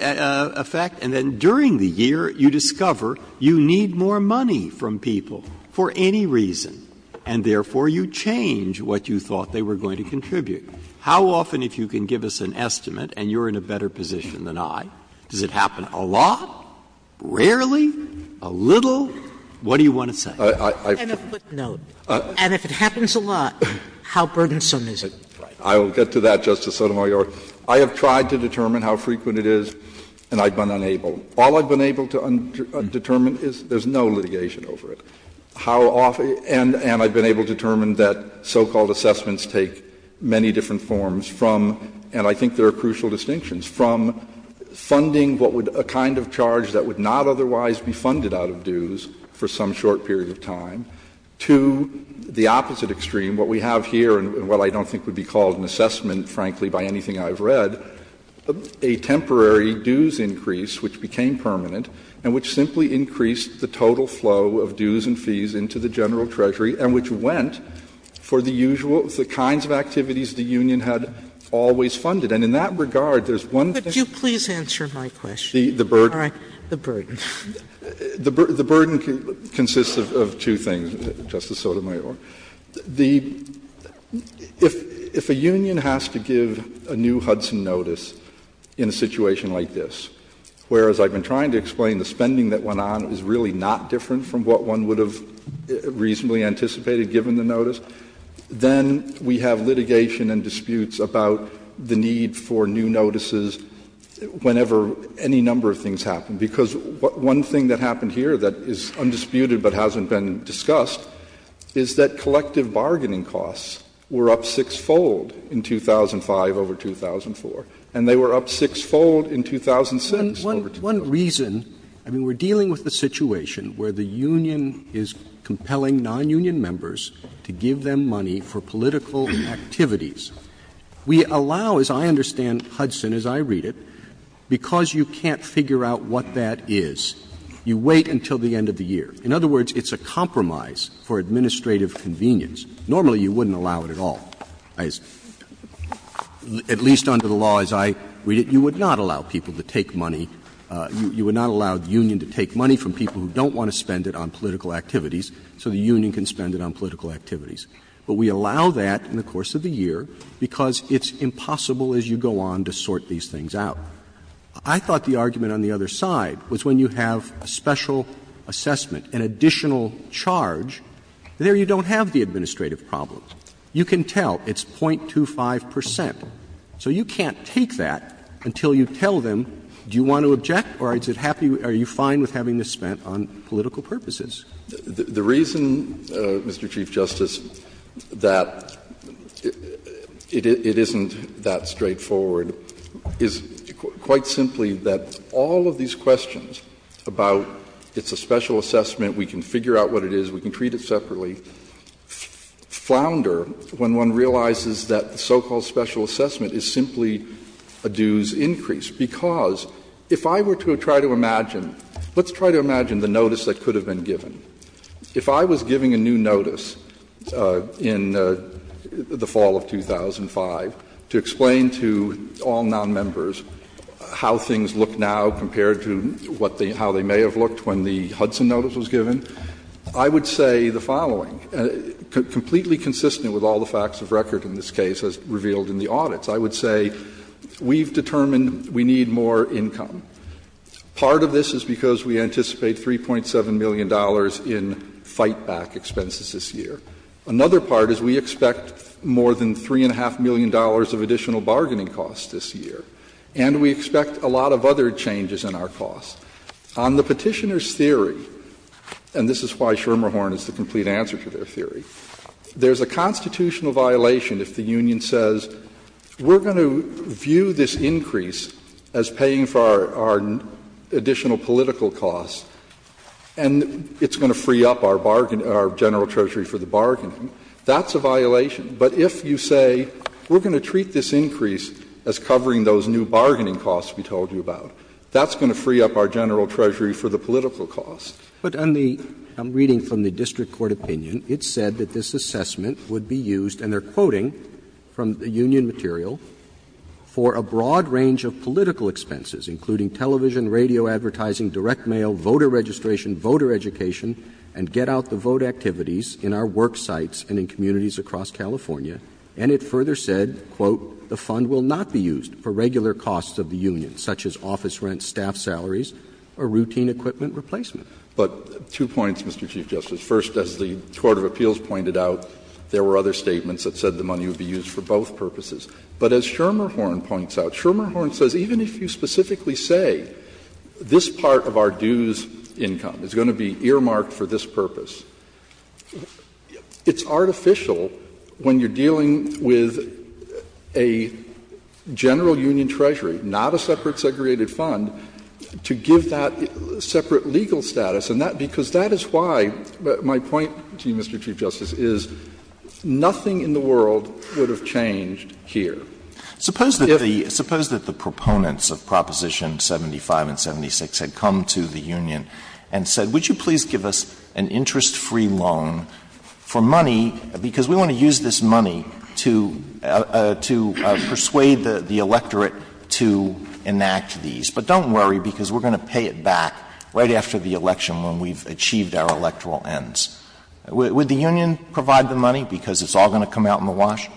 effect, and then during the year you discover you need more money from people for any reason, and therefore you change what you thought they were going to contribute? How often, if you can give us an estimate and you're in a better position than I, does it happen a lot, rarely, a little? What do you want to say? And a footnote. And if it happens a lot, how burdensome is it? I will get to that, Justice Sotomayor. I have tried to determine how frequent it is, and I've been unable. All I've been able to determine is there's no litigation over it. How often — and I've been able to determine that so-called assessments take many different forms from, and I think there are crucial distinctions, to the opposite extreme, what we have here, and what I don't think would be called an assessment, frankly, by anything I've read, a temporary dues increase, which became permanent, and which simply increased the total flow of dues and fees into the general treasury, and which went for the usual — the kinds of activities the union had always funded. And in that regard, there's one thing. Could you please answer my question? The burden. All right. The burden. The burden consists of two things, Justice Sotomayor. The — if a union has to give a new Hudson notice in a situation like this, whereas I've been trying to explain the spending that went on is really not different from what one would have reasonably anticipated, given the notice, then we have litigation and disputes about the need for new notices whenever any number of things happen, because one thing that happened here that is undisputed but hasn't been discussed is that collective bargaining costs were up six-fold in 2005 over 2004, and they were up six-fold in 2006. One — one reason — I mean, we're dealing with a situation where the union is compelling nonunion members to give them money for political activities. We allow, as I understand Hudson as I read it, because you can't figure out what that is, you wait until the end of the year. In other words, it's a compromise for administrative convenience. Normally, you wouldn't allow it at all. At least under the law as I read it, you would not allow people to take money. You would not allow the union to take money from people who don't want to spend it on political activities so the union can spend it on political activities. But we allow that in the course of the year because it's impossible, as you go on, to sort these things out. I thought the argument on the other side was when you have a special assessment, an additional charge, there you don't have the administrative problem. You can tell. It's 0.25 percent. So you can't take that until you tell them, do you want to object or is it happy — are you fine with having this spent on political purposes? The reason, Mr. Chief Justice, that it isn't that straightforward is, quite simply, that all of these questions about it's a special assessment, we can figure out what it is, we can treat it separately, flounder when one realizes that the so-called special assessment is simply a dues increase, because if I were to try to imagine — let's try to imagine the notice that could have been given. If I was giving a new notice in the fall of 2005 to explain to all nonmembers how things look now compared to how they may have looked when the Hudson notice was given, I would say the following, completely consistent with all the facts of record in this case as revealed in the audits. I would say we've determined we need more income. Part of this is because we anticipate $3.7 million in fight-back expenses this year. Another part is we expect more than $3.5 million of additional bargaining costs this year, and we expect a lot of other changes in our costs. On the Petitioner's theory, and this is why Schermerhorn is the complete answer to their theory, there's a constitutional violation if the union says, we're going to view this increase as paying for our additional political costs, and it's going to free up our bargain — our general treasury for the bargaining. That's a violation. But if you say, we're going to treat this increase as covering those new bargaining costs we told you about, that's going to free up our general treasury for the political costs. Roberts. But on the — I'm reading from the district court opinion, it said that this assessment would be used, and they're quoting from the union material, for a broad range of political expenses, including television, radio advertising, direct mail, voter registration, voter education, and get-out-the-vote activities in our work sites and in communities across California. And it further said, quote, the fund will not be used for regular costs of the union, such as office rents, staff salaries, or routine equipment replacement. But two points, Mr. Chief Justice. First, as the court of appeals pointed out, there were other statements that said the money would be used for both purposes. But as Schermerhorn points out, Schermerhorn says even if you specifically say, this part of our dues income is going to be earmarked for this purpose, it's artificial when you're dealing with a general union treasury, not a separate segregated fund, to give that separate legal status. And that — because that is why my point to you, Mr. Chief Justice, is nothing in the world would have changed here. Suppose that the — suppose that the proponents of Proposition 75 and 76 had come to the union and said, would you please give us an interest-free loan for money, because we want to use this money to — to persuade the electorate to enact these changes, but don't worry, because we're going to pay it back right after the election when we've achieved our electoral ends. Would the union provide the money, because it's all going to come out in the wash?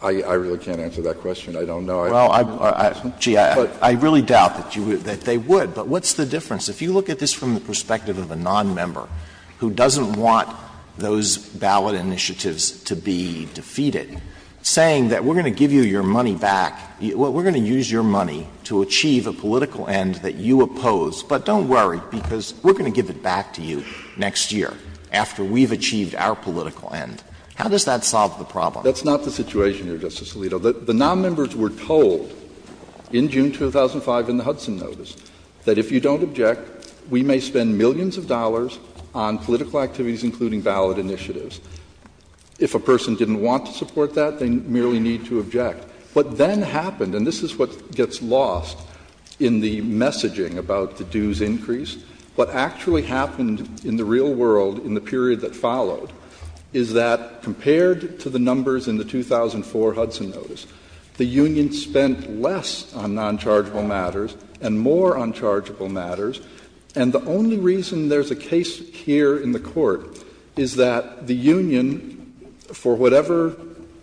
Schermerhorn I really can't answer that question. I don't know. Alito Well, I — gee, I really doubt that you would — that they would. But what's the difference? If you look at this from the perspective of a nonmember who doesn't want those ballot initiatives to be defeated, saying that we're going to give you your money back, we're going to use your money to achieve a political end that you oppose, but don't worry, because we're going to give it back to you next year after we've achieved our political end. How does that solve the problem? Schermerhorn That's not the situation here, Justice Alito. The nonmembers were told in June 2005 in the Hudson notice that if you don't object, we may spend millions of dollars on political activities, including ballot initiatives. If a person didn't want to support that, they merely need to object. What then happened, and this is what gets lost in the messaging about the dues increase, what actually happened in the real world in the period that followed is that compared to the numbers in the 2004 Hudson notice, the union spent less on nonchargeable matters and more on chargeable matters, and the only reason there's a case here in the Court is that the union, for whatever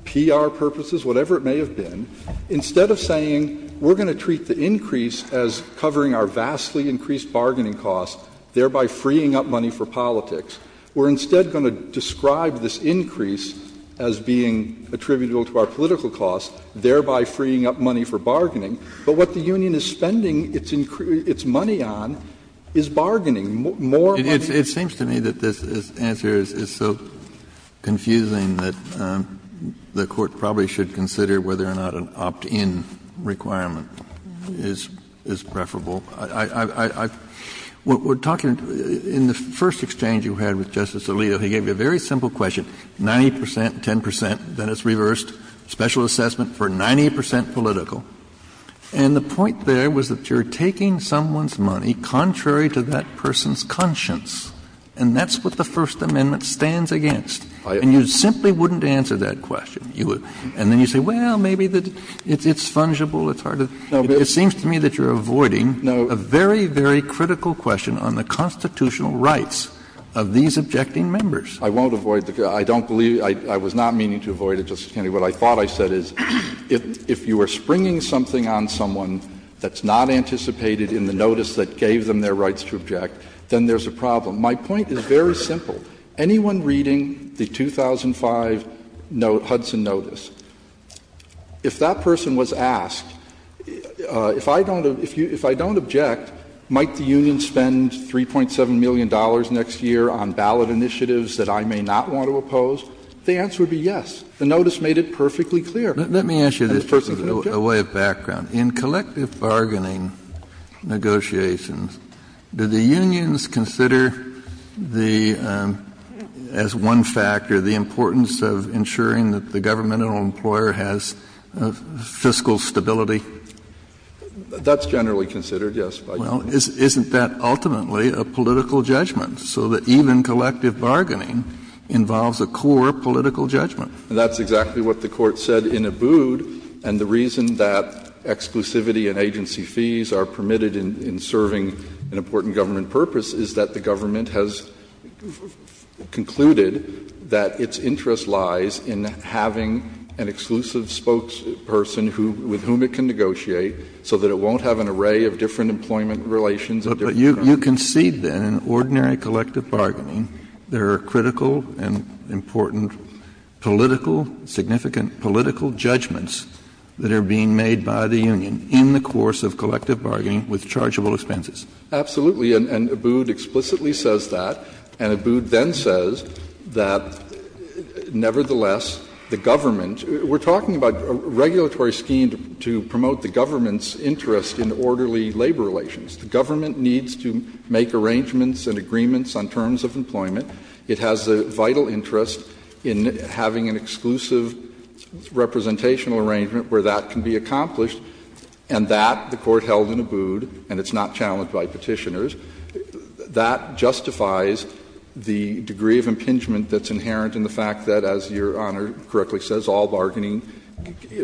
PR purposes, whatever it may have been, instead of saying we're going to treat the increase as covering our vastly increased bargaining costs, thereby freeing up money for politics, we're instead going to describe this increase as being attributable to our political costs, thereby freeing up money for bargaining. But what the union is spending its money on is bargaining. More money. Kennedy, it seems to me that this answer is so confusing that the Court probably should consider whether or not an opt-in requirement is preferable. We're talking in the first exchange you had with Justice Alito, he gave you a very simple question, 90 percent, 10 percent, then it's reversed, special assessment for 90 percent political, and the point there was that you're taking someone's money contrary to that person's conscience, and that's what the First Amendment stands against. And you simply wouldn't answer that question. And then you say, well, maybe it's fungible, it's hard to. It seems to me that you're avoiding a very, very critical question on the constitutional rights of these objecting members. I won't avoid the question. I don't believe, I was not meaning to avoid it, Justice Kennedy. What I thought I said is if you are springing something on someone that's not anticipated in the notice that gave them their rights to object, then there's a problem. My point is very simple. Anyone reading the 2005 Hudson notice, if that person was asked, if I don't object, might the union spend $3.7 million next year on ballot initiatives that I may not want to oppose? The answer would be yes. The notice made it perfectly clear. Kennedy. Let me ask you this as a way of background. In collective bargaining negotiations, do the unions consider the, as one factor, the importance of ensuring that the government or employer has fiscal stability? That's generally considered, yes. Well, isn't that ultimately a political judgment, so that even collective bargaining involves a core political judgment? That's exactly what the Court said in Abood. And the reason that exclusivity and agency fees are permitted in serving an important government purpose is that the government has concluded that its interest lies in having an exclusive spokesperson with whom it can negotiate, so that it won't have an array of different employment relations. But you concede, then, in ordinary collective bargaining, there are critical and important political, significant political judgments that are being made by the union in the course of collective bargaining with chargeable expenses? Absolutely. And Abood explicitly says that. And Abood then says that, nevertheless, the government, we're talking about a regulatory scheme to promote the government's interest in orderly labor relations. The government needs to make arrangements and agreements on terms of employment. It has a vital interest in having an exclusive representational arrangement where that can be accomplished, and that the Court held in Abood, and it's not challenged by Petitioners, that justifies the degree of impingement that's inherent in the fact that, as Your Honor correctly says, all bargaining,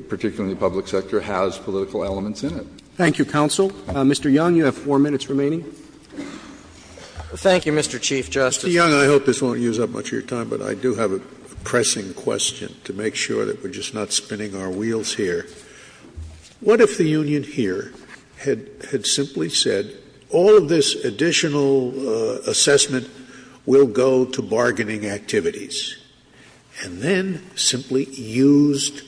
particularly in the public sector, has political elements in it. Thank you, counsel. Mr. Young, you have four minutes remaining. Thank you, Mr. Chief Justice. Mr. Young, I hope this won't use up much of your time, but I do have a pressing question to make sure that we're just not spinning our wheels here. What if the union here had simply said, all of this additional assessment will go to bargaining activities, and then simply used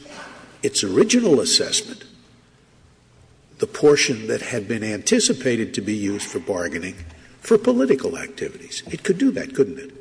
its original assessment, the portion that had been anticipated to be used for bargaining, for political activities? It could do that, couldn't it?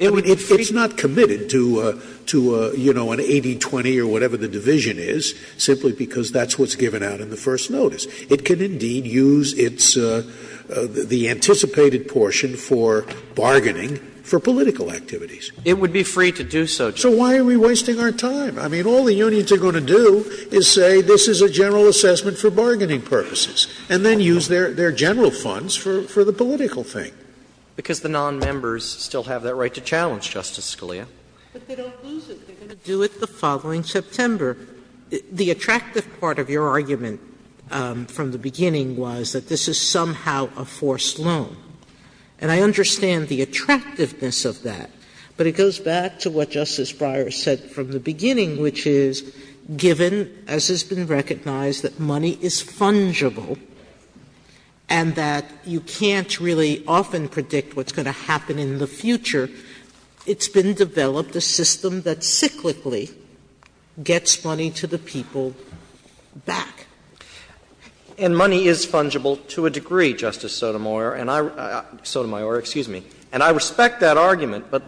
It's not committed to, you know, an 80-20 or whatever the division is, simply because that's what's given out in the first notice. It can indeed use its the anticipated portion for bargaining for political activities. It would be free to do so, Chief Justice. So why are we wasting our time? I mean, all the unions are going to do is say this is a general assessment for bargaining purposes, and then use their general funds for the political thing. Because the nonmembers still have that right to challenge, Justice Scalia. But they don't lose it. They're going to do it the following September. The attractive part of your argument from the beginning was that this is somehow a forced loan. And I understand the attractiveness of that, but it goes back to what Justice Breyer said from the beginning, which is, given, as has been recognized, that money is fungible and that you can't really often predict what's going to happen in the future, it's been developed a system that cyclically gets money to the people back. And money is fungible to a degree, Justice Sotomayor, and I respect that argument, but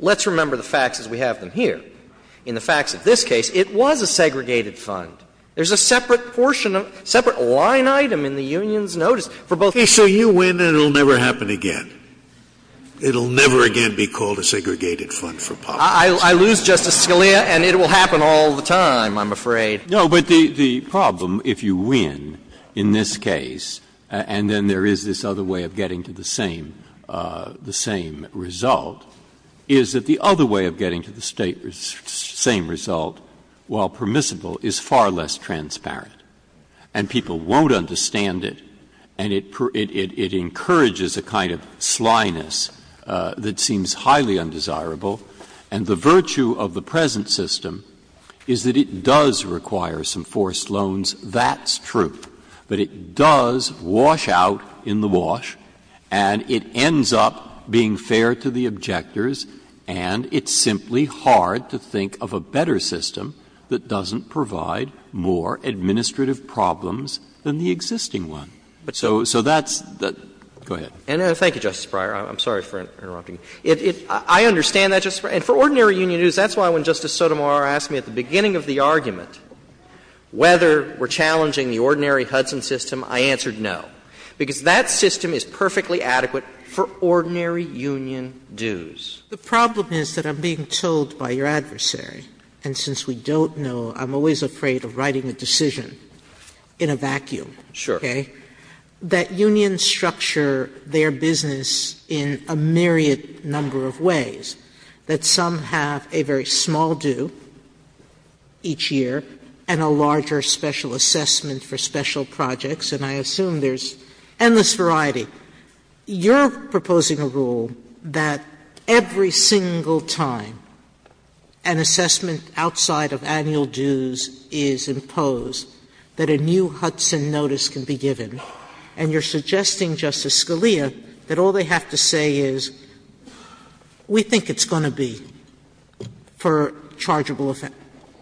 let's remember the facts, as we have them here. In the facts of this case, it was a segregated fund. There's a separate portion of, separate line item in the union's notice for both parties. Scalia, so you win and it will never happen again? It will never again be called a segregated fund for policy. I lose, Justice Scalia, and it will happen all the time, I'm afraid. No, but the problem, if you win in this case and then there is this other way of getting to the same result, is that the other way of getting to the same result, while permissible, is far less transparent, and people won't understand it, and it encourages a kind of slyness that seems highly undesirable. And the virtue of the present system is that it does require some forced loans. That's true. But it does wash out in the wash and it ends up being fair to the objectors And it's simply hard to think of a better system that doesn't provide more administrative problems than the existing one. So that's the go ahead. Thank you, Justice Breyer. I'm sorry for interrupting. I understand that, Justice Breyer. And for ordinary union dues, that's why when Justice Sotomayor asked me at the beginning of the argument whether we're challenging the ordinary Hudson system, I answered no, because that system is perfectly adequate for ordinary union dues. Sotomayor The problem is that I'm being told by your adversary, and since we don't know, I'm always afraid of writing a decision in a vacuum, okay, that unions structure their business in a myriad number of ways, that some have a very small due each year and a larger special assessment for special projects, and I assume there's endless variety. You're proposing a rule that every single time an assessment outside of annual dues is imposed, that a new Hudson notice can be given, and you're suggesting, Justice Scalia, that all they have to say is, we think it's going to be for chargeable effect.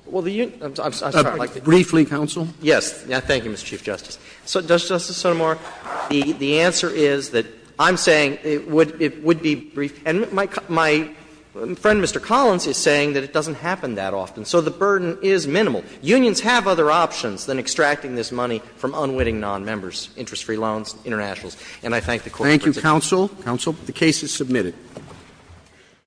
Well, the union, I'm sorry, I'd like to briefly counsel. Yes. Thank you, Mr. Chief Justice. So, Justice Sotomayor, the answer is that I'm saying it would be brief, and my friend, Mr. Collins, is saying that it doesn't happen that often, so the burden is minimal. Unions have other options than extracting this money from unwitting nonmembers, interest-free loans, internationals. And I thank the Court for its advice. Thank you, counsel. Counsel. The case is submitted.